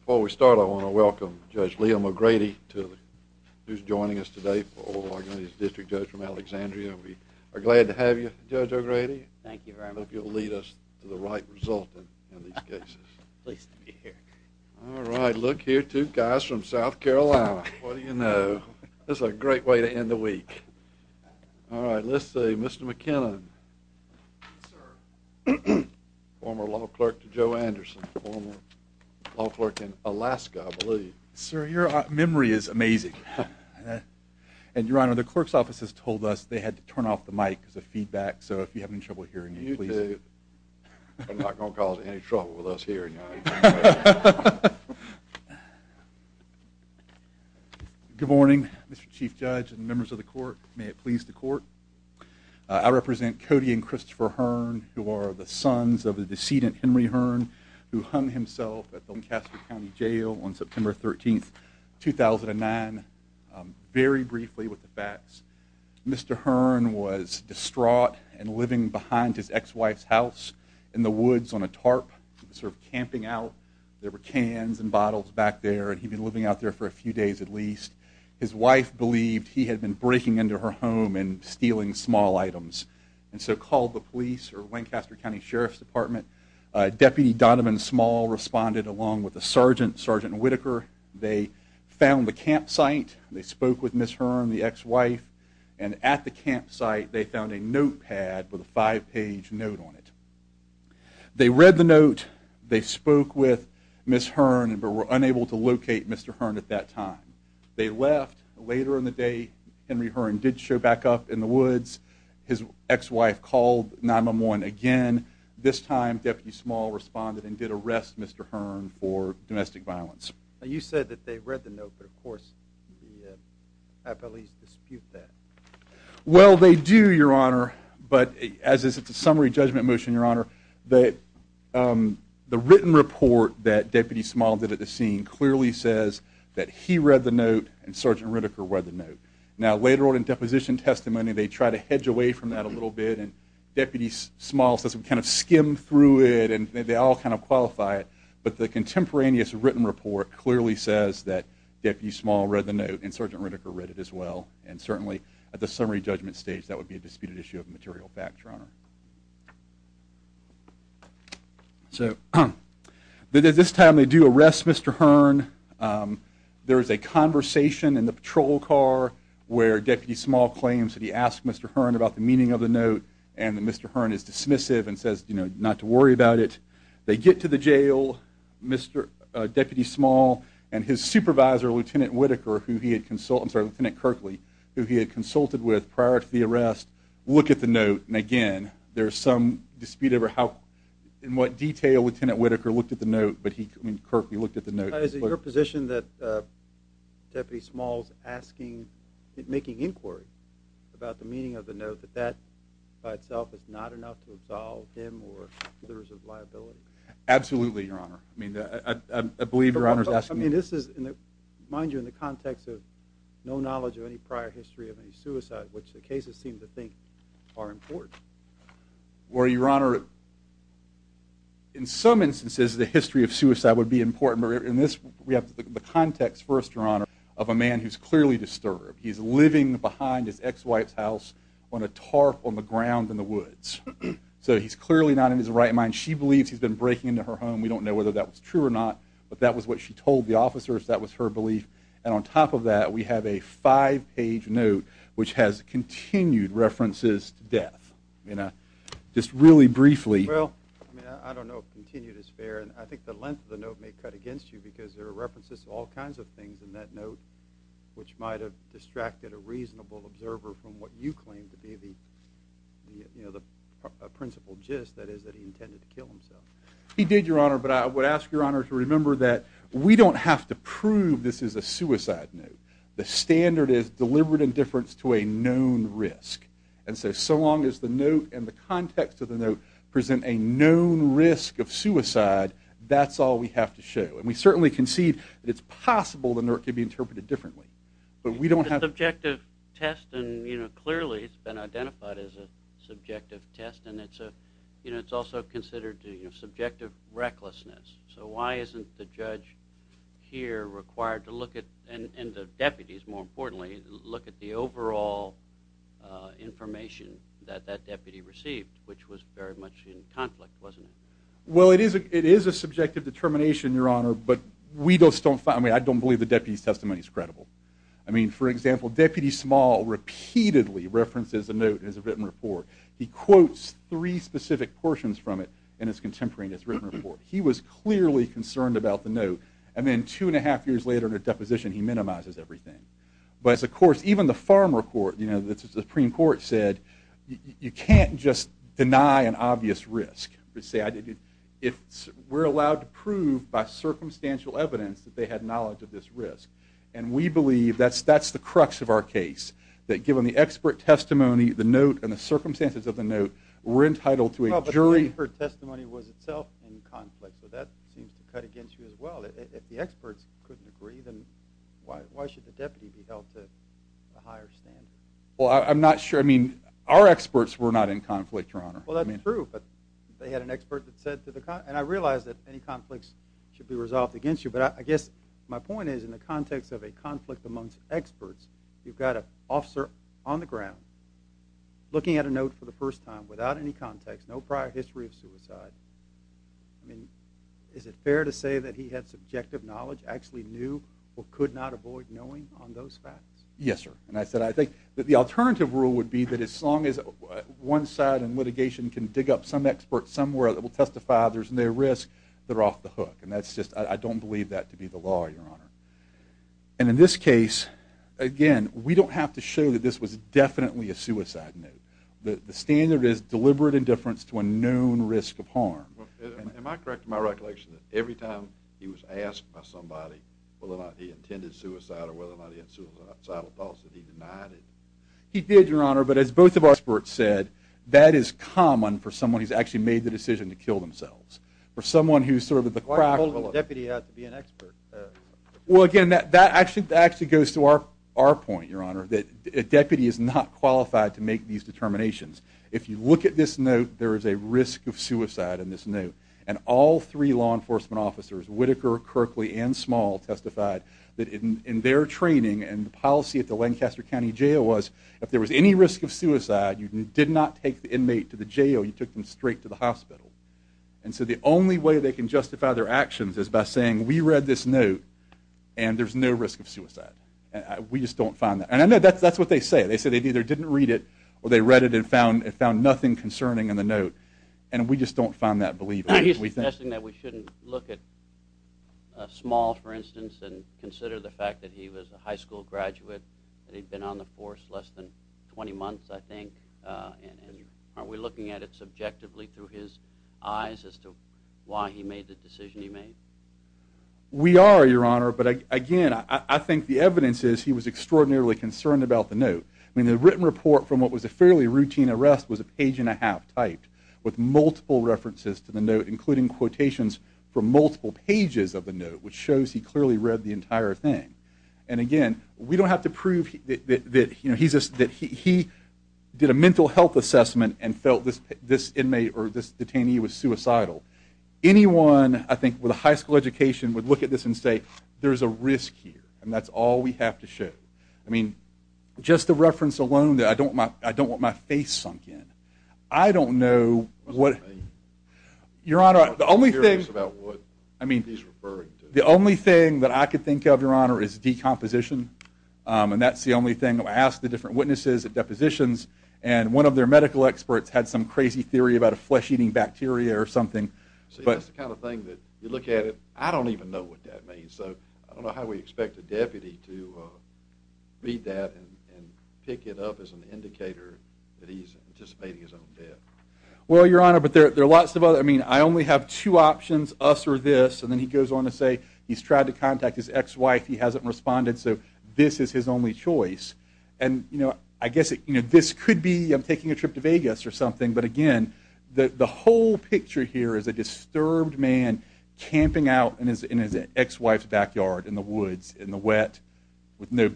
Before we start, I want to welcome Judge Liam O'Grady, who's joining us today for the district judge from Alexandria. We are glad to have you, Judge O'Grady. Thank you very much. I hope you'll lead us to the right result in these cases. Pleased to be here. All right, look here, two guys from South Carolina. What do you know? This is a great way to end the week. All right, let's see, Mr. McKinnon. Yes, sir. Former law clerk to Joe Anderson, former law clerk in Alaska, I believe. Sir, your memory is amazing. And, Your Honor, the clerk's office has told us they had to turn off the mic because of feedback, so if you have any trouble hearing me, please. You do. You're not going to cause any trouble with us hearing you. Good morning, Mr. Chief Judge and members of the court. May it please the court. I represent Cody and Christopher Hearn, who are the sons of the decedent Henry Hearn, who hung himself at Doncaster County Jail on September 13, 2009. Very briefly with the facts. Mr. Hearn was distraught and living behind his ex-wife's house in the woods on a tarp, sort of camping out. There were cans and bottles back there, and he'd been living out there for a few days at least. His wife believed he had been breaking into her home and stealing small items, and so called the police or Lancaster County Sheriff's Department. Deputy Donovan Small responded along with a sergeant, Sergeant Whitaker. They found the campsite. They spoke with Ms. Hearn, the ex-wife, and at the campsite, they found a notepad with a five-page note on it. They read the note. They spoke with Ms. Hearn, but were unable to locate Mr. Hearn at that time. They left. Later in the day, Henry Hearn did show back up in the woods. His ex-wife called 9-1-1 again. This time, Deputy Small responded and did arrest Mr. Hearn for domestic violence. You said that they read the note, but, of course, the police dispute that. Well, they do, Your Honor, but as it's a summary judgment motion, Your Honor, the written report that Deputy Small did at the scene clearly says that he read the note and Sergeant Whitaker read the note. Now, later on in deposition testimony, they try to hedge away from that a little bit, and Deputy Small says we kind of skim through it, and they all kind of qualify it, but the contemporaneous written report clearly says that Deputy Small read the note and Sergeant Whitaker read it as well, and certainly at the summary judgment stage, that would be a disputed issue of material fact, Your Honor. So at this time, they do arrest Mr. Hearn. There is a conversation in the patrol car where Deputy Small claims that he asked Mr. Hearn about the meaning of the note and that Mr. Hearn is dismissive and says not to worry about it. They get to the jail, Deputy Small and his supervisor, Lieutenant Whitaker, who he had consulted with prior to the arrest, look at the note, and again, there is some dispute over in what detail Lieutenant Whitaker looked at the note, but Kirkley looked at the note. Is it your position that Deputy Small is making inquiry about the meaning of the note, that that by itself is not enough to absolve him or others of liability? Absolutely, Your Honor. I believe Your Honor is asking me. I mean this is, mind you, in the context of no knowledge of any prior history of any suicide, which the cases seem to think are important. Well, Your Honor, in some instances the history of suicide would be important, but in this we have the context first, Your Honor, of a man who is clearly disturbed. He is living behind his ex-wife's house on a tarp on the ground in the woods. So he is clearly not in his right mind. She believes he has been breaking into her home. We don't know whether that was true or not, but that was what she told the officers. That was her belief. And on top of that we have a five-page note which has continued references to death. Just really briefly. Well, I don't know if continued is fair, and I think the length of the note may cut against you because there are references to all kinds of things in that note which might have distracted a reasonable observer from what you claim to be the principal gist, that is that he intended to kill himself. He did, Your Honor, but I would ask Your Honor to remember that we don't have to prove this is a suicide note. The standard is deliberate indifference to a known risk. And so long as the note and the context of the note present a known risk of suicide, that's all we have to show. And we certainly concede that it's possible the note could be interpreted differently, but we don't have to. It's a subjective test, and clearly it's been identified as a subjective test, and it's also considered subjective recklessness. So why isn't the judge here required to look at, and the deputies more importantly, look at the overall information that that deputy received, which was very much in conflict, wasn't it? Well, it is a subjective determination, Your Honor, but I don't believe the deputy's testimony is credible. I mean, for example, Deputy Small repeatedly references the note in his written report. He quotes three specific portions from it in his contemporary in his written report. He was clearly concerned about the note, and then two and a half years later in a deposition he minimizes everything. But, of course, even the Farmer Court, the Supreme Court, said you can't just deny an obvious risk. We're allowed to prove by circumstantial evidence that they had knowledge of this risk, and we believe that's the crux of our case, that given the expert testimony, the note, and the circumstances of the note, we're entitled to a jury- Well, but the expert testimony was itself in conflict, so that seems to cut against you as well. If the experts couldn't agree, then why should the deputy be held to a higher standard? Well, I'm not sure. I mean, our experts were not in conflict, Your Honor. Well, that's true, but they had an expert that said to the- and I realize that any conflicts should be resolved against you, but I guess my point is in the context of a conflict amongst experts, you've got an officer on the ground looking at a note for the first time, without any context, no prior history of suicide. I mean, is it fair to say that he had subjective knowledge, actually knew or could not avoid knowing on those facts? Yes, sir. And I said I think that the alternative rule would be that as long as one side in litigation can dig up some expert somewhere that will testify there's no risk, they're off the hook. And that's just- I don't believe that to be the law, Your Honor. And in this case, again, we don't have to show that this was definitely a suicide note. The standard is deliberate indifference to a known risk of harm. Am I correct in my recollection that every time he was asked by somebody whether or not he intended suicide or whether or not he had suicidal thoughts, that he denied it? He did, Your Honor, but as both of our experts said, that is common for someone who's actually made the decision to kill themselves. For someone who's sort of at the crossroads- Well, again, that actually goes to our point, Your Honor, that a deputy is not qualified to make these determinations. If you look at this note, there is a risk of suicide in this note, and all three law enforcement officers, Whitaker, Kirkley, and Small, testified that in their training and the policy at the Lancaster County Jail was if there was any risk of suicide, you did not take the inmate to the jail, you took them straight to the hospital. And so the only way they can justify their actions is by saying, we read this note and there's no risk of suicide. We just don't find that. And that's what they say. They say they either didn't read it or they read it and found nothing concerning in the note. And we just don't find that believable. Now, he's suggesting that we shouldn't look at Small, for instance, and consider the fact that he was a high school graduate and he'd been on the force less than 20 months, I think. Aren't we looking at it subjectively through his eyes as to why he made the decision he made? We are, Your Honor. But again, I think the evidence is he was extraordinarily concerned about the note. I mean, the written report from what was a fairly routine arrest was a page and a half typed with multiple references to the note, including quotations from multiple pages of the note, which shows he clearly read the entire thing. And again, we don't have to prove that he did a mental health assessment and felt this inmate or this detainee was suicidal. Anyone, I think, with a high school education would look at this and say, there's a risk here, and that's all we have to show. I mean, just the reference alone, I don't want my face sunk in. I don't know what... Your Honor, the only thing... The only thing that I could think of, Your Honor, is decomposition, and that's the only thing. I asked the different witnesses at depositions, and one of their medical experts had some crazy theory about a flesh-eating bacteria or something. See, that's the kind of thing that you look at it, I don't even know what that means. So I don't know how we expect a deputy to read that and pick it up as an indicator that he's anticipating his own death. Well, Your Honor, but there are lots of other... I mean, I only have two options, us or this, and then he goes on to say he's tried to contact his ex-wife. He hasn't responded, so this is his only choice. I guess this could be, I'm taking a trip to Vegas or something, but again, the whole picture here is a disturbed man camping out in his ex-wife's backyard in the woods, in the wet, with no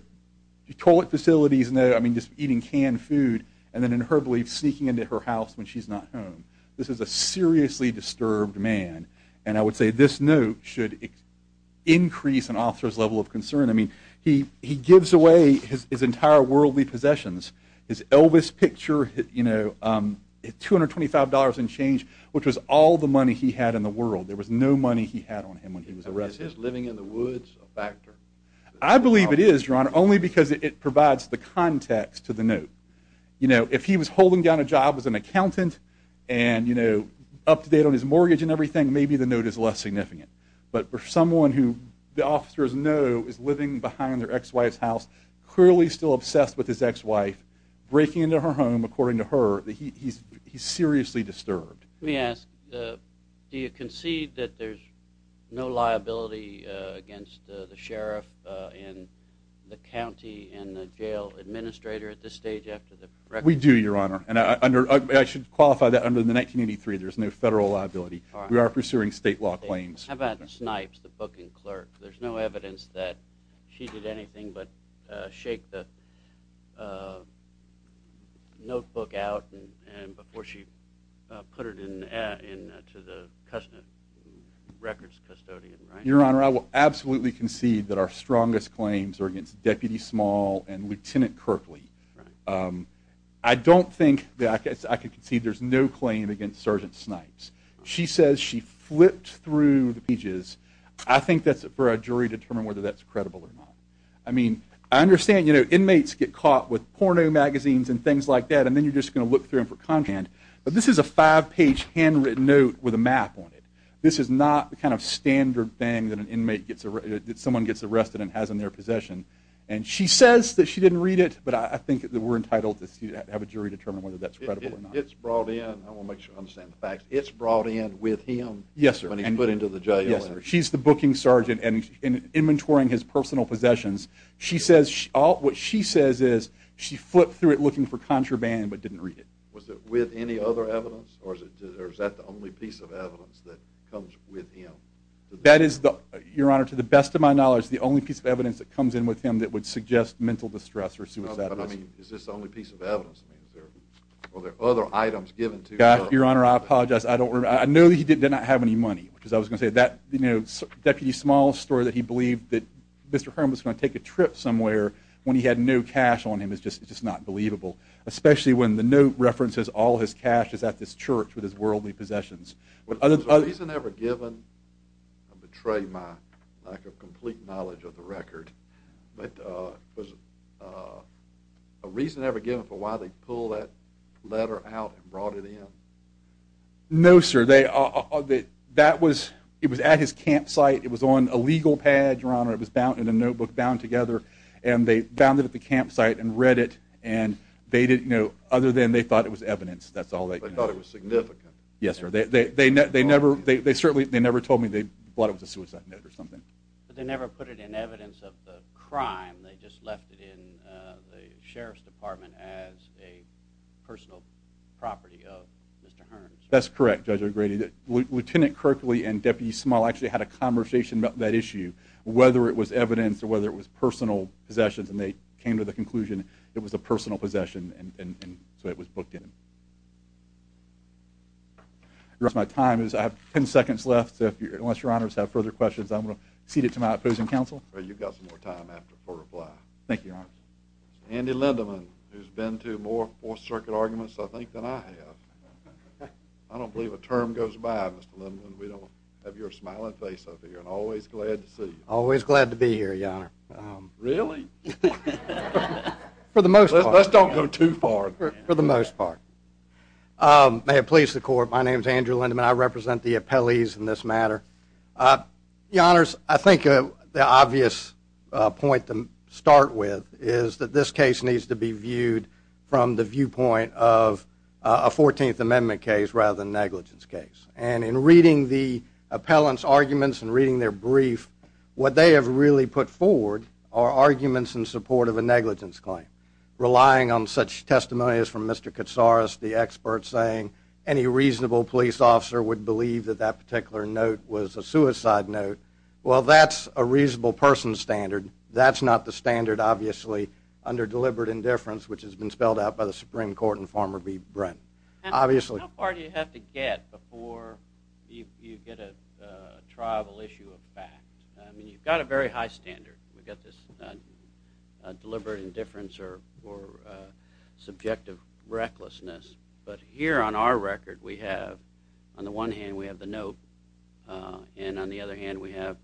toilet facilities, just eating canned food, and then in her belief, sneaking into her house when she's not home. This is a seriously disturbed man, and I would say this note should increase an officer's level of concern. I mean, he gives away his entire worldly possessions, his Elvis picture, $225 and change, which was all the money he had in the world. There was no money he had on him when he was arrested. Is his living in the woods a factor? I believe it is, Your Honor, only because it provides the context to the note. If he was holding down a job as an accountant and up to date on his mortgage and everything, maybe the note is less significant. But for someone who the officers know is living behind their ex-wife's house, clearly still obsessed with his ex-wife, breaking into her home according to her, he's seriously disturbed. Let me ask, do you concede that there's no liability against the sheriff and the county and the jail administrator at this stage after the record? We do, Your Honor, and I should qualify that under the 1983, there's no federal liability. We are pursuing state law claims. How about Snipes, the booking clerk? There's no evidence that she did anything but shake the notebook out before she put it into the records custodian, right? Your Honor, I will absolutely concede that our strongest claims are against Deputy Small and Lieutenant Kirkley. I don't think that I could concede there's no claim against Sergeant Snipes. She says she flipped through the pages. I think that's for a jury to determine whether that's credible or not. I mean, I understand inmates get caught with porno magazines and things like that, and then you're just going to look through them for content. But this is a five-page handwritten note with a map on it. This is not the kind of standard thing that someone gets arrested and has in their possession. And she says that she didn't read it, but I think that we're entitled to have a jury determine whether that's credible or not. It's brought in. I want to make sure I understand the facts. It's brought in with him when he's put into the jail? Yes, sir. She's the booking sergeant and inventorying his personal possessions. What she says is she flipped through it looking for contraband but didn't read it. Was it with any other evidence, or is that the only piece of evidence that comes with him? That is, Your Honor, to the best of my knowledge, the only piece of evidence that comes in with him that would suggest mental distress or suicide. But, I mean, is this the only piece of evidence? Are there other items given to him? Your Honor, I apologize. I know that he did not have any money, because I was going to say that Deputy Small's story that he believed that Mr. Herman was going to take a trip somewhere when he had no cash on him is just not believable, especially when the note references all his cash is at this church with his worldly possessions. Was there a reason ever given, I betray my lack of complete knowledge of the record, but was there a reason ever given for why they pulled that letter out and brought it in? No, sir. It was at his campsite. It was on a legal pad, Your Honor. It was in a notebook bound together, and they found it at the campsite and read it, and they didn't know other than they thought it was evidence. That's all they knew. They thought it was significant. Yes, sir. They certainly never told me they thought it was a suicide note or something. But they never put it in evidence of the crime. They just left it in the Sheriff's Department as a personal property of Mr. Herman's. That's correct, Judge O'Grady. Lieutenant Croakley and Deputy Small actually had a conversation about that issue, whether it was evidence or whether it was personal possessions, and they came to the conclusion it was a personal possession, and so it was booked in. That's my time. I have 10 seconds left. Unless Your Honors have further questions, I'm going to cede it to my opposing counsel. Well, you've got some more time for reply. Thank you, Your Honor. Andy Lindeman, who's been to more Fourth Circuit arguments, I think, than I have. I don't believe a term goes by, Mr. Lindeman. We don't have your smiling face up here and always glad to see you. Always glad to be here, Your Honor. Really? For the most part. Let's don't go too far. For the most part. May it please the Court, my name is Andrew Lindeman. I represent the appellees in this matter. Your Honors, I think the obvious point to start with is that this case needs to be viewed from the viewpoint of a 14th Amendment case rather than negligence case. And in reading the appellant's arguments and reading their brief, what they have really put forward are arguments in support of a negligence claim, relying on such testimonies from Mr. Katsaros, the expert saying any reasonable police officer would believe that that particular note was a suicide note. Well, that's a reasonable person's standard. That's not the standard, obviously, under deliberate indifference, which has been spelled out by the Supreme Court and Farmer v. Brent, obviously. How far do you have to get before you get a triable issue of fact? I mean, you've got a very high standard. We've got this deliberate indifference or subjective recklessness. But here on our record we have, on the one hand we have the note, and on the other hand we have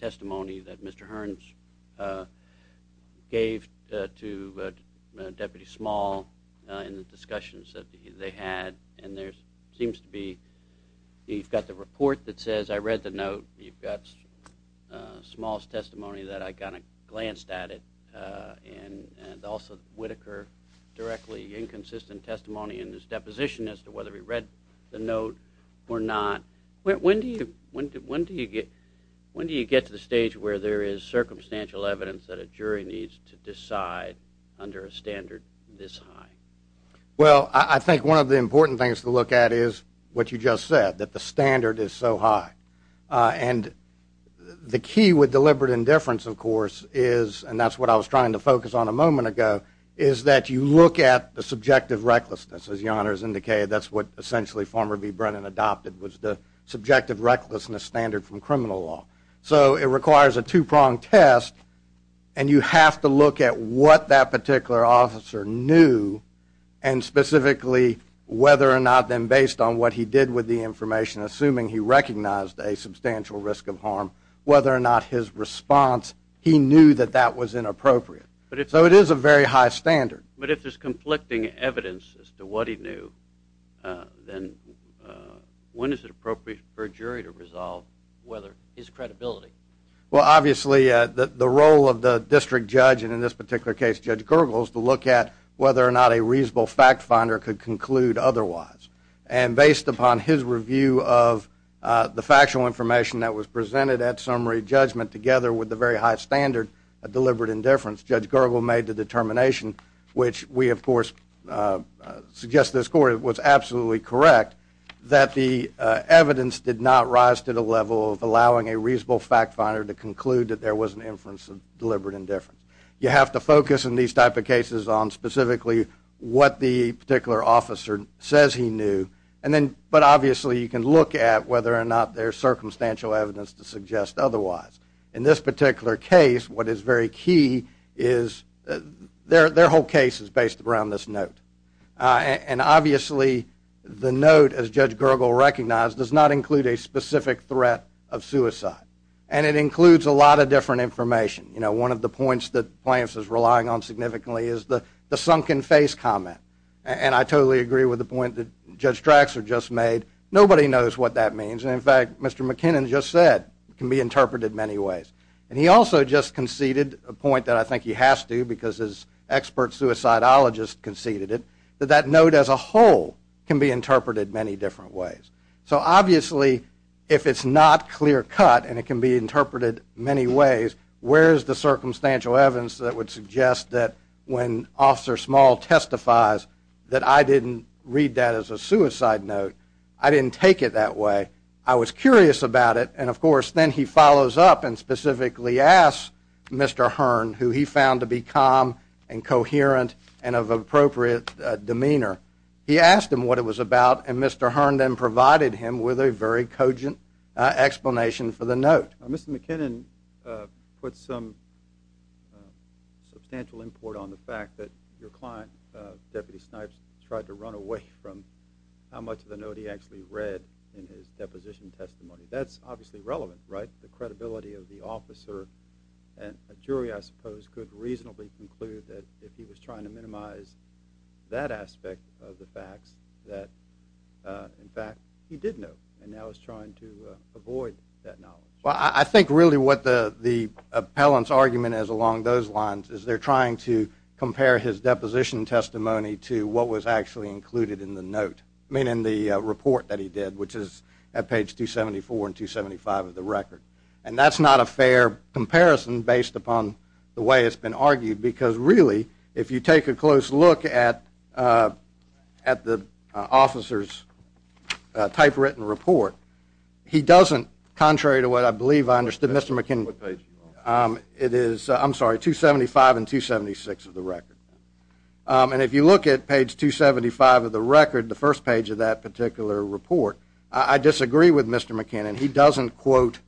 testimony that Mr. Hearns gave to Deputy Small in the discussions that they had. And there seems to be, you've got the report that says I read the note. You've got Small's testimony that I kind of glanced at it, and also Whitaker's directly inconsistent testimony in his deposition as to whether he read the note or not. When do you get to the stage where there is circumstantial evidence that a jury needs to decide under a standard this high? Well, I think one of the important things to look at is what you just said, that the standard is so high. And the key with deliberate indifference, of course, is, and that's what I was trying to focus on a moment ago, is that you look at the subjective recklessness. As the honors indicated, that's what essentially Farmer v. Brennan adopted was the subjective recklessness standard from criminal law. So it requires a two-pronged test, and you have to look at what that particular officer knew, and specifically whether or not then based on what he did with the information, assuming he recognized a substantial risk of harm, whether or not his response, he knew that that was inappropriate. So it is a very high standard. But if there's conflicting evidence as to what he knew, then when is it appropriate for a jury to resolve whether his credibility? Well, obviously, the role of the district judge, and in this particular case, Judge Gergel, is to look at whether or not a reasonable fact finder could conclude otherwise. And based upon his review of the factual information that was presented at summary judgment together with the very high standard of deliberate indifference, Judge Gergel made the determination, which we, of course, suggest to this court was absolutely correct, that the evidence did not rise to the level of allowing a reasonable fact finder to conclude that there was an inference of deliberate indifference. You have to focus in these type of cases on specifically what the particular officer says he knew, but obviously you can look at whether or not there's circumstantial evidence to suggest otherwise. In this particular case, what is very key is their whole case is based around this note. And obviously the note, as Judge Gergel recognized, does not include a specific threat of suicide. And it includes a lot of different information. You know, one of the points that Plants is relying on significantly is the sunken face comment. And I totally agree with the point that Judge Traxor just made. Nobody knows what that means. And in fact, Mr. McKinnon just said it can be interpreted many ways. And he also just conceded a point that I think he has to, because his expert suicidologist conceded it, that that note as a whole can be interpreted many different ways. So obviously if it's not clear cut and it can be interpreted many ways, where is the circumstantial evidence that would suggest that when Officer Small testifies that I didn't read that as a suicide note, I didn't take it that way. I was curious about it. And of course then he follows up and specifically asks Mr. Hearn, who he found to be calm and coherent and of appropriate demeanor. He asked him what it was about, and Mr. Hearn then provided him with a very cogent explanation for the note. Mr. McKinnon put some substantial import on the fact that your client, Deputy Snipes, tried to run away from how much of the note he actually read in his deposition testimony. That's obviously relevant, right? that if he was trying to minimize that aspect of the facts that in fact he did know and now is trying to avoid that knowledge. Well, I think really what the appellant's argument is along those lines is they're trying to compare his deposition testimony to what was actually included in the note, meaning the report that he did, which is at page 274 and 275 of the record. And that's not a fair comparison based upon the way it's been argued because really if you take a close look at the officer's typewritten report, he doesn't, contrary to what I believe I understood Mr. McKinnon, it is, I'm sorry, 275 and 276 of the record. And if you look at page 275 of the record, the first page of that particular report, I disagree with Mr. McKinnon. He doesn't quote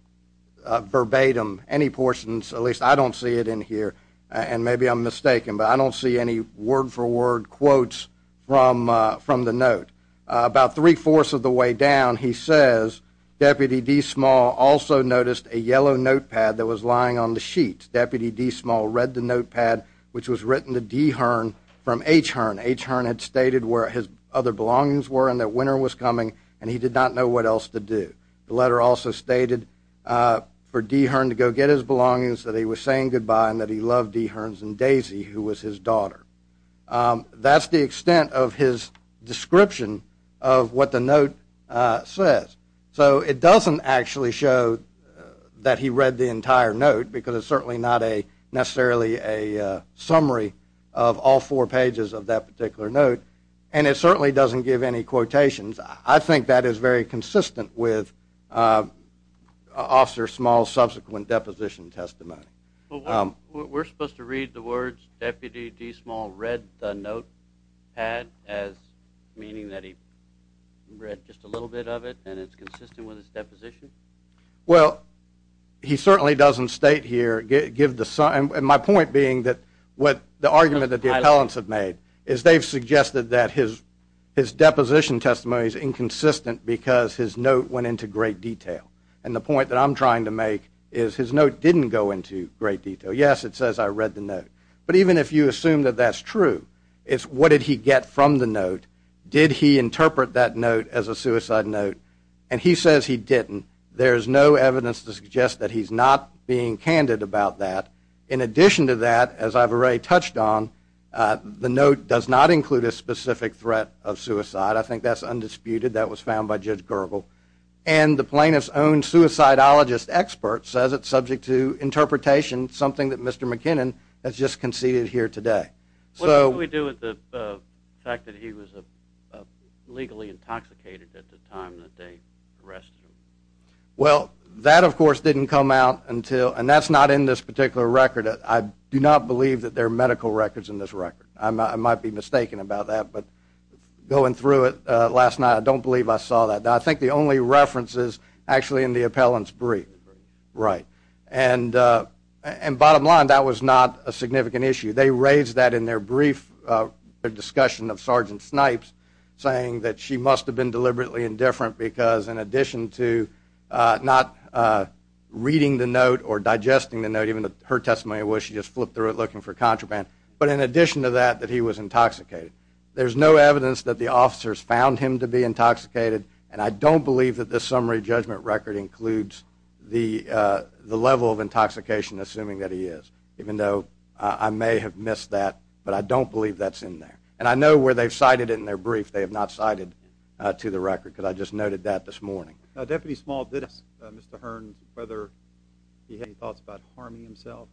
verbatim any portions, at least I don't see it in here, and maybe I'm mistaken, but I don't see any word-for-word quotes from the note. About three-fourths of the way down, he says, Deputy D. Small also noticed a yellow notepad that was lying on the sheet. Deputy D. Small read the notepad, which was written to D. Hearn from H. Hearn. H. Hearn had stated where his other belongings were and that winter was coming, and he did not know what else to do. The letter also stated for D. Hearn to go get his belongings, that he was saying goodbye and that he loved D. Hearns and Daisy, who was his daughter. That's the extent of his description of what the note says. So it doesn't actually show that he read the entire note because it's certainly not necessarily a summary of all four pages of that particular note, and it certainly doesn't give any quotations. I think that is very consistent with Officer Small's subsequent deposition testimony. We're supposed to read the words, Deputy D. Small read the notepad, meaning that he read just a little bit of it, and it's consistent with his deposition? Well, he certainly doesn't state here, give the – and my point being that what the argument that the appellants have made is they've suggested that his deposition testimony is inconsistent because his note went into great detail, and the point that I'm trying to make is his note didn't go into great detail. Yes, it says I read the note, but even if you assume that that's true, it's what did he get from the note, did he interpret that note as a suicide note, and he says he didn't. There's no evidence to suggest that he's not being candid about that. In addition to that, as I've already touched on, the note does not include a specific threat of suicide. I think that's undisputed. That was found by Judge Gergel. And the plaintiff's own suicidologist expert says it's subject to interpretation, something that Mr. McKinnon has just conceded here today. What did he do with the fact that he was legally intoxicated at the time that they arrested him? Well, that, of course, didn't come out until, and that's not in this particular record. I do not believe that there are medical records in this record. I might be mistaken about that, but going through it last night, I don't believe I saw that. Now, I think the only reference is actually in the appellant's brief. Right. And bottom line, that was not a significant issue. They raised that in their brief discussion of Sergeant Snipes, saying that she must have been deliberately indifferent because in addition to not reading the note or digesting the note, even though her testimony was she just flipped through it looking for contraband, but in addition to that, that he was intoxicated. There's no evidence that the officers found him to be intoxicated, and I don't believe that this summary judgment record includes the level of intoxication, assuming that he is, even though I may have missed that, but I don't believe that's in there. And I know where they've cited it in their brief. They have not cited it to the record because I just noted that this morning. Deputy Small did ask Mr. Hearn whether he had any thoughts about harming himself.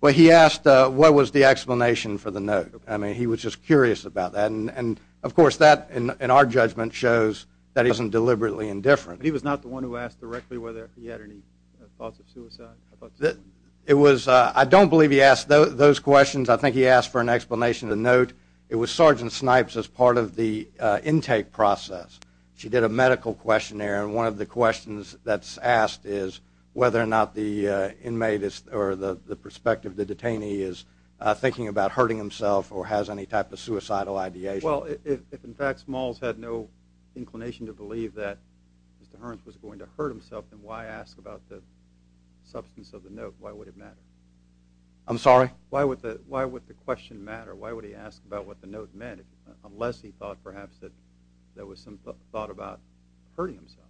Well, he asked what was the explanation for the note. I mean, he was just curious about that. And, of course, that in our judgment shows that he wasn't deliberately indifferent. But he was not the one who asked directly whether he had any thoughts of suicide? I don't believe he asked those questions. I think he asked for an explanation of the note. It was Sergeant Snipes as part of the intake process. She did a medical questionnaire, and one of the questions that's asked is whether or not the inmate or the perspective of the detainee is thinking about hurting himself or has any type of suicidal ideation. Well, if, in fact, Smalls had no inclination to believe that Mr. Hearn was going to hurt himself, then why ask about the substance of the note? Why would it matter? I'm sorry? Why would the question matter? Why would he ask about what the note meant unless he thought, perhaps, that there was some thought about hurting himself?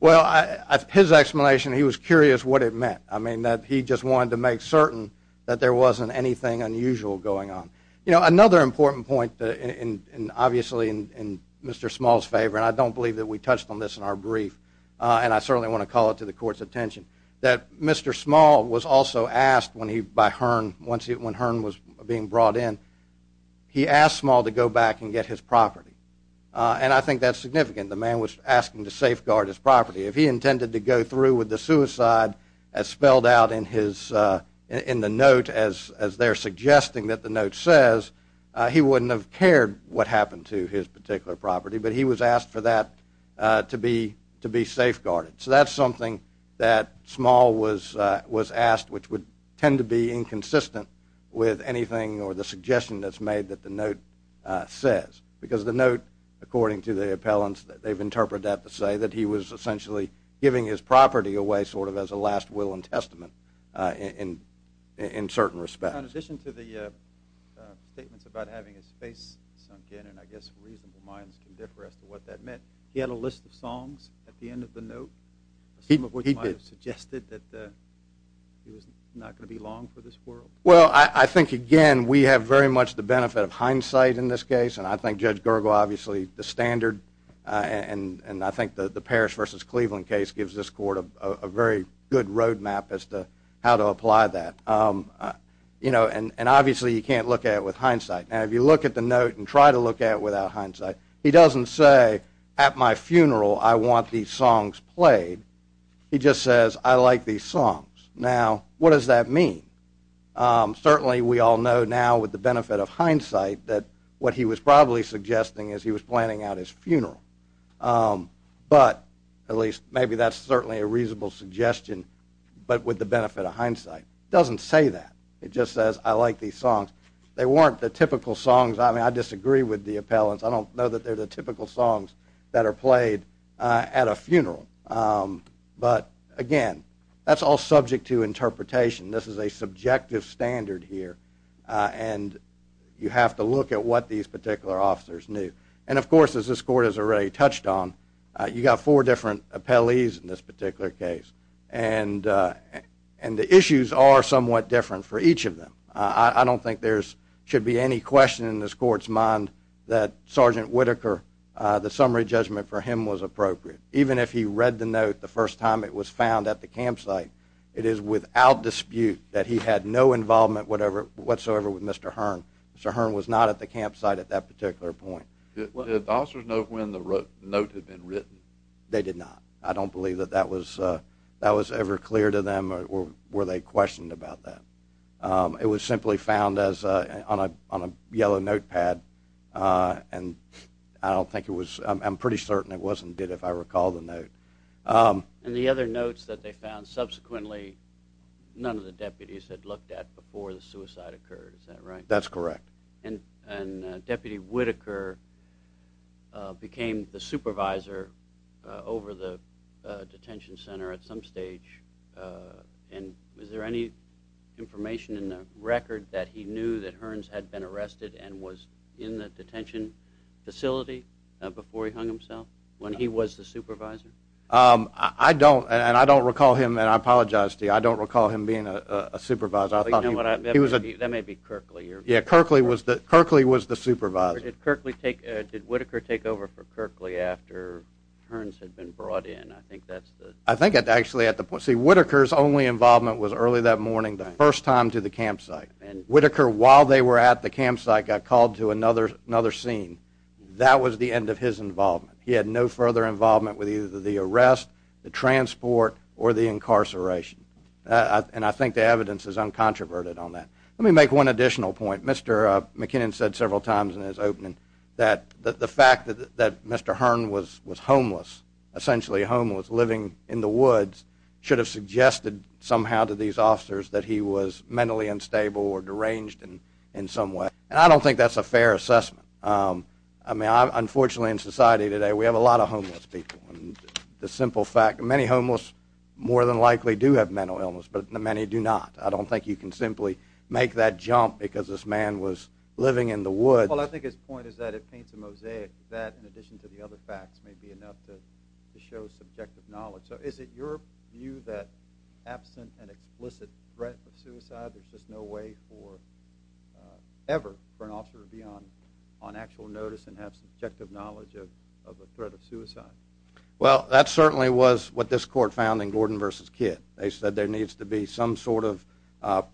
Well, his explanation, he was curious what it meant. I mean, that he just wanted to make certain that there wasn't anything unusual going on. You know, another important point, and obviously in Mr. Small's favor, and I don't believe that we touched on this in our brief, and I certainly want to call it to the Court's attention, that Mr. Small was also asked when Hearn was being brought in, he asked Small to go back and get his property. And I think that's significant. The man was asking to safeguard his property. If he intended to go through with the suicide as spelled out in the note, as they're suggesting that the note says, he wouldn't have cared what happened to his particular property, but he was asked for that to be safeguarded. So that's something that Small was asked, which would tend to be inconsistent with anything or the suggestion that's made that the note says. Because the note, according to the appellants, they've interpreted that to say that he was essentially giving his property away sort of as a last will and testament in certain respects. In addition to the statements about having his face sunk in, and I guess reasonable minds can differ as to what that meant, he had a list of songs at the end of the note, some of which might have suggested that he was not going to be long for this world. Well, I think, again, we have very much the benefit of hindsight in this case, and I think Judge Gergel, obviously, the standard, and I think the Parrish v. Cleveland case gives this Court a very good road map as to how to apply that. And obviously you can't look at it with hindsight. Now, if you look at the note and try to look at it without hindsight, he doesn't say, at my funeral I want these songs played. He just says, I like these songs. Now, what does that mean? Certainly we all know now with the benefit of hindsight that what he was probably suggesting is he was planning out his funeral. But at least maybe that's certainly a reasonable suggestion, but with the benefit of hindsight. It doesn't say that. It just says, I like these songs. They weren't the typical songs. I mean, I disagree with the appellants. I don't know that they're the typical songs that are played at a funeral. But, again, that's all subject to interpretation. This is a subjective standard here, and you have to look at what these particular officers knew. And, of course, as this Court has already touched on, you've got four different appellees in this particular case, and the issues are somewhat different for each of them. I don't think there should be any question in this Court's mind that Sergeant Whitaker, the summary judgment for him was appropriate. Even if he read the note the first time it was found at the campsite, it is without dispute that he had no involvement whatsoever with Mr. Hearn. Mr. Hearn was not at the campsite at that particular point. Did the officers know when the note had been written? They did not. I don't believe that that was ever clear to them or were they questioned about that. It was simply found on a yellow notepad, and I don't think it was. I'm pretty certain it wasn't, if I recall the note. And the other notes that they found, subsequently none of the deputies had looked at before the suicide occurred. Is that right? That's correct. And Deputy Whitaker became the supervisor over the detention center at some stage. And was there any information in the record that he knew that Hearns had been arrested and was in the detention facility before he hung himself when he was the supervisor? I don't, and I don't recall him, and I apologize to you, I don't recall him being a supervisor. That may be Kerkley. Yeah, Kerkley was the supervisor. Did Whitaker take over for Kerkley after Hearns had been brought in? I think actually at the point, see Whitaker's only involvement was early that morning, the first time to the campsite. And Whitaker, while they were at the campsite, got called to another scene. That was the end of his involvement. He had no further involvement with either the arrest, the transport, or the incarceration. And I think the evidence is uncontroverted on that. Let me make one additional point. Mr. McKinnon said several times in his opening that the fact that Mr. Hearns was homeless, essentially homeless, living in the woods, should have suggested somehow to these officers that he was mentally unstable or deranged in some way. And I don't think that's a fair assessment. I mean, unfortunately in society today we have a lot of homeless people. The simple fact, many homeless more than likely do have mental illness, but many do not. I don't think you can simply make that jump because this man was living in the woods. Well, I think his point is that it paints a mosaic that, in addition to the other facts, may be enough to show subjective knowledge. So is it your view that absent an explicit threat of suicide, there's just no way ever for an officer to be on actual notice and have subjective knowledge of a threat of suicide? Well, that certainly was what this court found in Gordon v. Kidd. They said there needs to be some sort of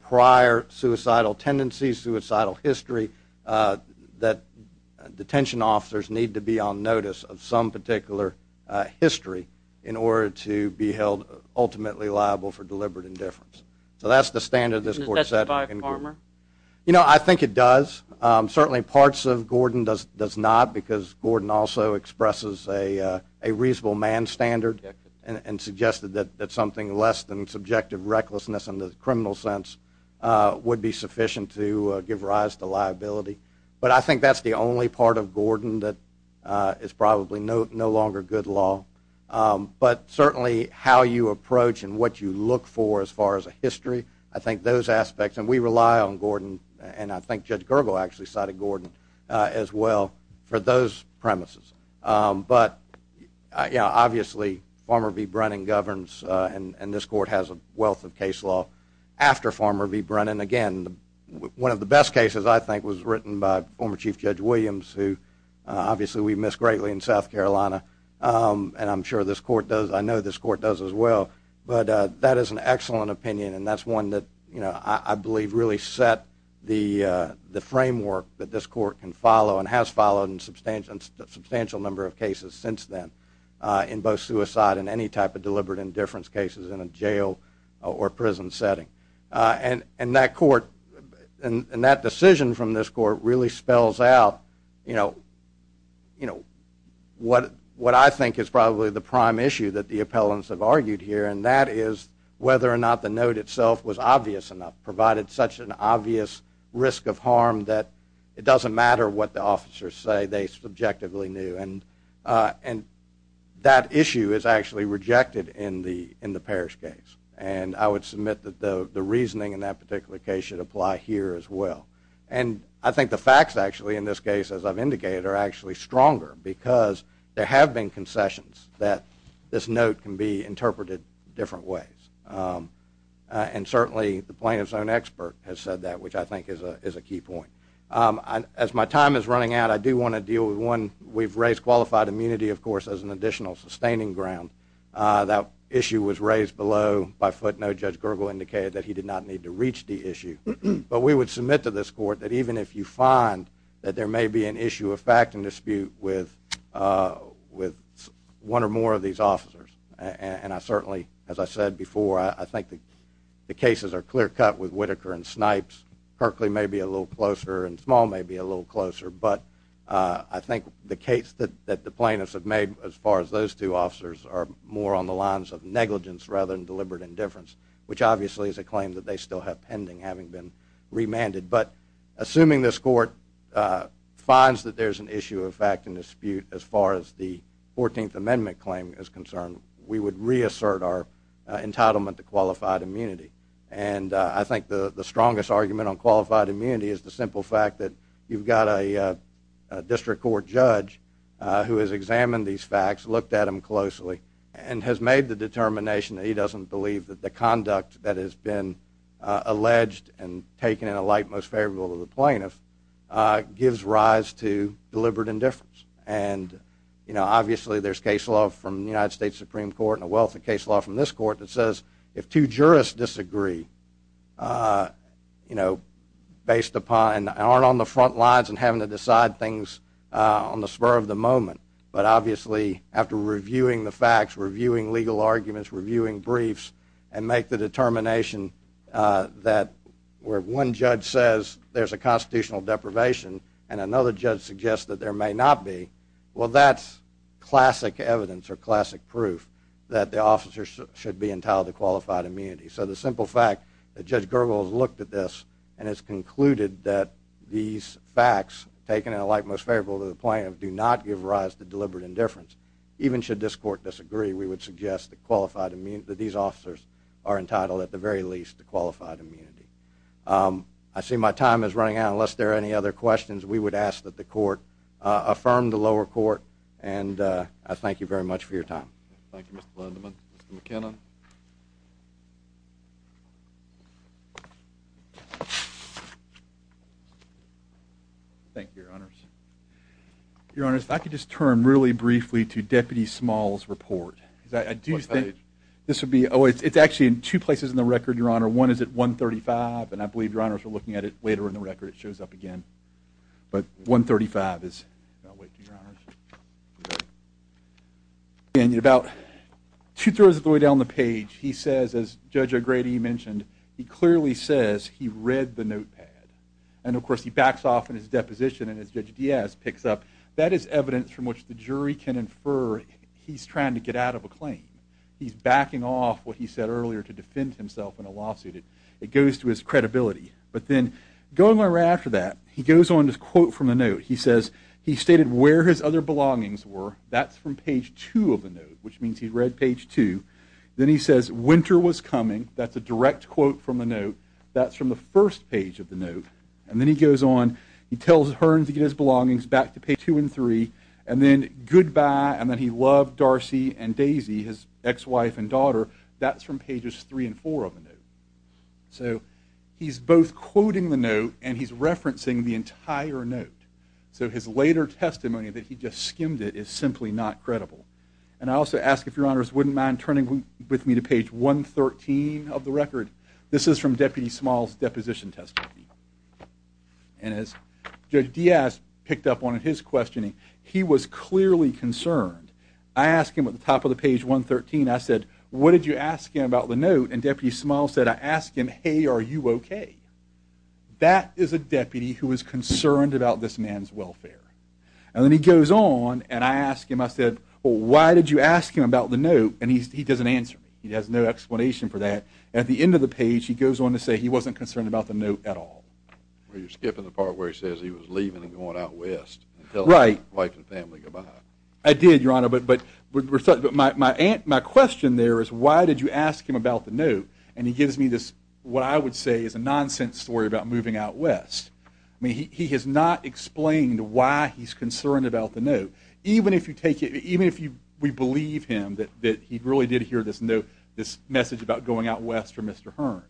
prior suicidal tendency, suicidal history, that detention officers need to be on notice of some particular history in order to be held ultimately liable for deliberate indifference. So that's the standard this court set. Is that by Farmer? You know, I think it does. Certainly parts of Gordon does not because Gordon also expresses a reasonable man standard and suggested that something less than subjective recklessness in the criminal sense would be sufficient to give rise to liability. But I think that's the only part of Gordon that is probably no longer good law. But certainly how you approach and what you look for as far as a history, I think those aspects, and we rely on Gordon, and I think Judge Gergel actually cited Gordon as well for those premises. But obviously Farmer v. Brennan governs, and this court has a wealth of case law after Farmer v. Brennan. Again, one of the best cases I think was written by former Chief Judge Williams, who obviously we miss greatly in South Carolina, and I'm sure this court does. I know this court does as well. But that is an excellent opinion, and that's one that I believe really set the framework that this court can follow and has followed in a substantial number of cases since then in both suicide and any type of deliberate indifference cases in a jail or prison setting. And that decision from this court really spells out what I think is probably the prime issue that the appellants have argued here, and that is whether or not the note itself was obvious enough, provided such an obvious risk of harm that it doesn't matter what the officers say, they subjectively knew. And that issue is actually rejected in the Parrish case, and I would submit that the reasoning in that particular case should apply here as well. And I think the facts actually in this case, as I've indicated, are actually stronger because there have been concessions that this note can be interpreted different ways. And certainly the plaintiff's own expert has said that, which I think is a key point. As my time is running out, I do want to deal with one. We've raised qualified immunity, of course, as an additional sustaining ground. That issue was raised below by footnote. Judge Gergel indicated that he did not need to reach the issue. But we would submit to this court that even if you find that there may be an issue of fact and dispute with one or more of these officers, and I certainly, as I said before, I think the cases are clear-cut with Whitaker and Snipes. Kerkley may be a little closer, and Small may be a little closer, but I think the case that the plaintiffs have made as far as those two officers are more on the lines of negligence rather than deliberate indifference, which obviously is a claim that they still have pending, having been remanded. But assuming this court finds that there's an issue of fact and dispute as far as the 14th Amendment claim is concerned, we would reassert our entitlement to qualified immunity. And I think the strongest argument on qualified immunity is the simple fact that you've got a district court judge who has examined these facts, looked at them closely, and has made the determination that he doesn't believe that the conduct that has been alleged and taken in a light most favorable to the plaintiffs gives rise to deliberate indifference. And, you know, obviously there's case law from the United States Supreme Court and a wealth of case law from this court that says if two jurists disagree, you know, based upon and aren't on the front lines and having to decide things on the spur of the moment, but obviously after reviewing the facts, reviewing legal arguments, reviewing briefs, and make the determination that where one judge says there's a constitutional deprivation and another judge suggests that there may not be, well that's classic evidence or classic proof that the officer should be entitled to qualified immunity. So the simple fact that Judge Gergel has looked at this and has concluded that these facts taken in a light most favorable to the plaintiff do not give rise to deliberate indifference, even should this court disagree, we would suggest that these officers are entitled at the very least to qualified immunity. I see my time is running out. Unless there are any other questions, we would ask that the court affirm the lower court. And I thank you very much for your time. Thank you, Mr. Lederman. Mr. McKinnon. Thank you, Your Honors. Your Honors, if I could just turn really briefly to Deputy Small's report. What page? This would be, oh, it's actually in two places in the record, Your Honor. One is at 135, and I believe Your Honors are looking at it later in the record. It shows up again. But 135 is about way through, Your Honors. And about two-thirds of the way down the page, he says, as Judge O'Grady mentioned, he clearly says he read the notepad. And, of course, he backs off in his deposition, and as Judge Diaz picks up, that is evidence from which the jury can infer he's trying to get out of a claim. He's backing off what he said earlier to defend himself in a lawsuit. It goes to his credibility. But then going right after that, he goes on to quote from the note. He says he stated where his other belongings were. That's from page two of the note, which means he read page two. Then he says winter was coming. That's a direct quote from the note. That's from the first page of the note. And then he goes on. He tells Hearn to get his belongings back to page two and three. And then goodbye, and then he loved Darcy and Daisy, his ex-wife and daughter. That's from pages three and four of the note. So he's both quoting the note, and he's referencing the entire note. So his later testimony that he just skimmed it is simply not credible. And I also ask if Your Honors wouldn't mind turning with me to page 113 of the record. This is from Deputy Small's deposition testimony. And as Judge Diaz picked up on in his questioning, he was clearly concerned. I asked him at the top of the page 113, I said, what did you ask him about the note? And Deputy Small said, I asked him, hey, are you okay? That is a deputy who is concerned about this man's welfare. And then he goes on, and I asked him, I said, well, why did you ask him about the note? And he doesn't answer me. He has no explanation for that. At the end of the page, he goes on to say he wasn't concerned about the note at all. Well, you're skipping the part where he says he was leaving and going out west and telling his wife and family goodbye. I did, Your Honor, but my question there is, why did you ask him about the note? And he gives me this, what I would say is a nonsense story about moving out west. I mean, he has not explained why he's concerned about the note. Even if we believe him that he really did hear this message about going out west from Mr. Hearn.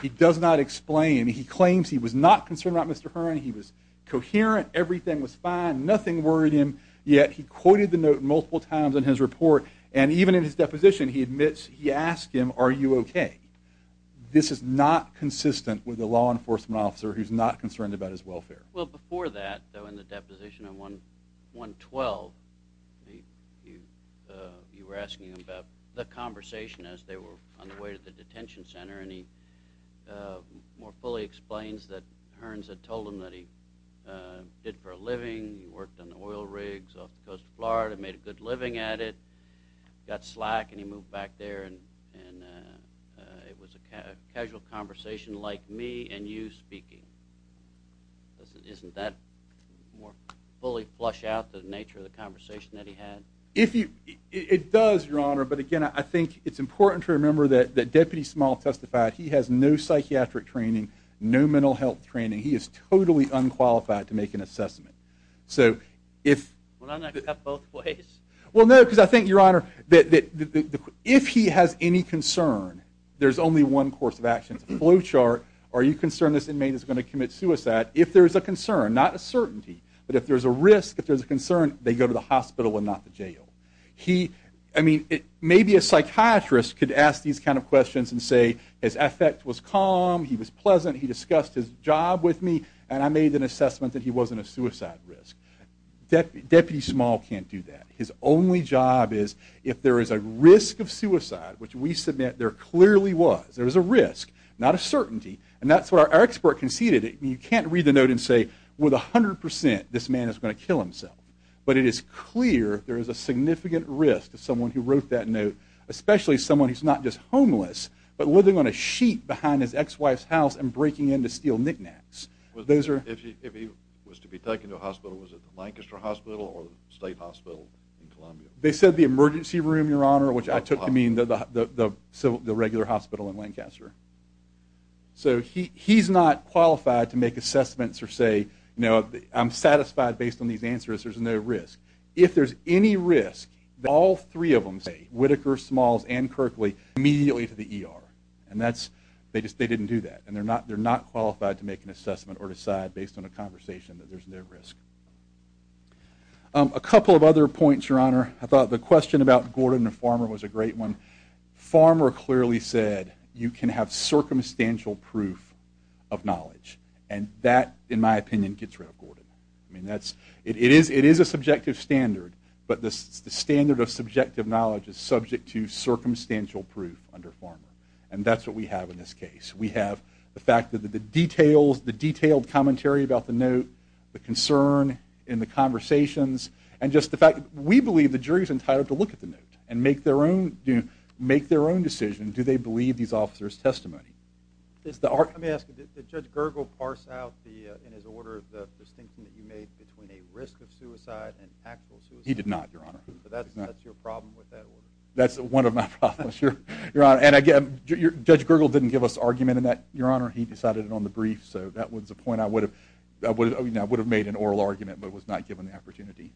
He does not explain. He claims he was not concerned about Mr. Hearn. He was coherent. Everything was fine. Nothing worried him. Yet he quoted the note multiple times in his report, and even in his deposition he admits he asked him, are you okay? This is not consistent with a law enforcement officer who's not concerned about his welfare. Well, before that, though, in the deposition on 112, you were asking about the conversation as they were on the way to the detention center, and he more fully explains that Hearns had told him that he did it for a living, he worked on oil rigs off the coast of Florida, made a good living at it, got slack, and he moved back there, and it was a casual conversation like me and you speaking. Doesn't that more fully flush out the nature of the conversation that he had? It does, Your Honor, but, again, I think it's important to remember that Deputy Small testified he has no psychiatric training, no mental health training. He is totally unqualified to make an assessment. So if he has any concern, there's only one course of action. It's a flow chart. Are you concerned this inmate is going to commit suicide? If there's a concern, not a certainty, but if there's a risk, if there's a concern, they go to the hospital and not the jail. He, I mean, maybe a psychiatrist could ask these kind of questions and say, his affect was calm, he was pleasant, he discussed his job with me, and I made an assessment that he wasn't a suicide risk. Deputy Small can't do that. His only job is if there is a risk of suicide, which we submit there clearly was, there was a risk, not a certainty, and that's what our expert conceded. You can't read the note and say with 100% this man is going to kill himself, but it is clear there is a significant risk to someone who wrote that note, especially someone who's not just homeless, but living on a sheet behind his ex-wife's house and breaking in to steal knick-knacks. If he was to be taken to a hospital, was it the Lancaster Hospital or the State Hospital in Columbia? They said the emergency room, Your Honor, which I took to mean the regular hospital in Lancaster. So he's not qualified to make assessments or say, you know, I'm satisfied based on these answers there's no risk. If there's any risk that all three of them say, Whitaker, Smalls, and Kirkley, immediately to the ER. And that's, they didn't do that, and they're not qualified to make an assessment or decide based on a conversation that there's no risk. A couple of other points, Your Honor. I thought the question about Gordon and Farmer was a great one. Farmer clearly said you can have circumstantial proof of knowledge, and that, in my opinion, gets rid of Gordon. I mean, that's, it is a subjective standard, but the standard of subjective knowledge is subject to circumstantial proof under Farmer, and that's what we have in this case. We have the fact that the details, the detailed commentary about the note, the concern in the conversations, and just the fact that we believe the jury's entitled to look at the note and make their own decision, do they believe these officers' testimony. Let me ask you, did Judge Gergel parse out in his order the distinction that you made between a risk of suicide and actual suicide? He did not, Your Honor. So that's your problem with that order? That's one of my problems, Your Honor. And again, Judge Gergel didn't give us argument in that, Your Honor. He decided it on the brief, so that was the point. I would have made an oral argument but was not given the opportunity.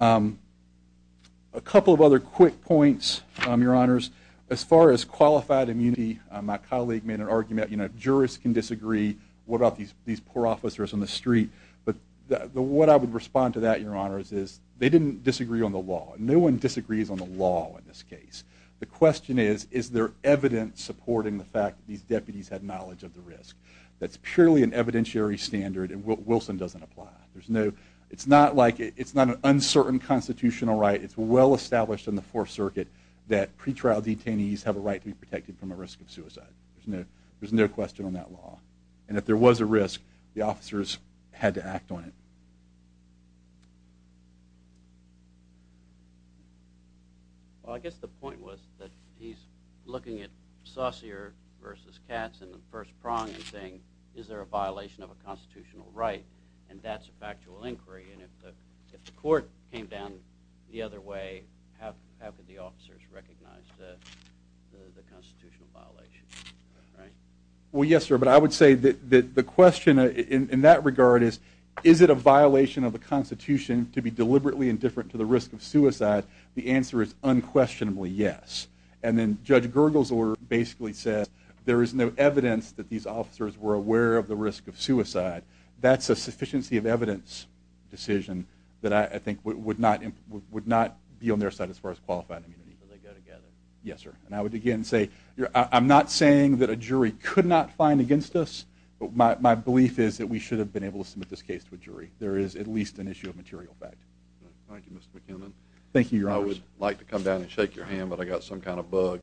A couple of other quick points, Your Honors. As far as qualified immunity, my colleague made an argument, you know, jurists can disagree, what about these poor officers on the street. But what I would respond to that, Your Honors, is they didn't disagree on the law. No one disagrees on the law in this case. The question is, is there evidence supporting the fact that these deputies had knowledge of the risk. That's purely an evidentiary standard, and Wilson doesn't apply. It's not an uncertain constitutional right. It's well established in the Fourth Circuit that pretrial detainees have a right to be protected from a risk of suicide. There's no question on that law. And if there was a risk, the officers had to act on it. Well, I guess the point was that he's looking at Saucier versus Katz in the first prong and saying, is there a violation of a constitutional right? And that's a factual inquiry, and if the court came down the other way, how could the officers recognize the constitutional violation, right? Well, yes, sir, but I would say that the question in that regard is, is it a violation of the Constitution to be deliberately indifferent to the risk of suicide? The answer is unquestionably yes. And then Judge Gergel's order basically says there is no evidence that these officers were aware of the risk of suicide. That's a sufficiency of evidence decision that I think would not be on their side as far as qualifying immunity. Yes, sir. And I would again say I'm not saying that a jury could not find against us, but my belief is that we should have been able to submit this case to a jury. There is at least an issue of material fact. Thank you, Mr. McKinnon. Thank you, Your Honor. I would like to come down and shake your hand, but I've got some kind of bug.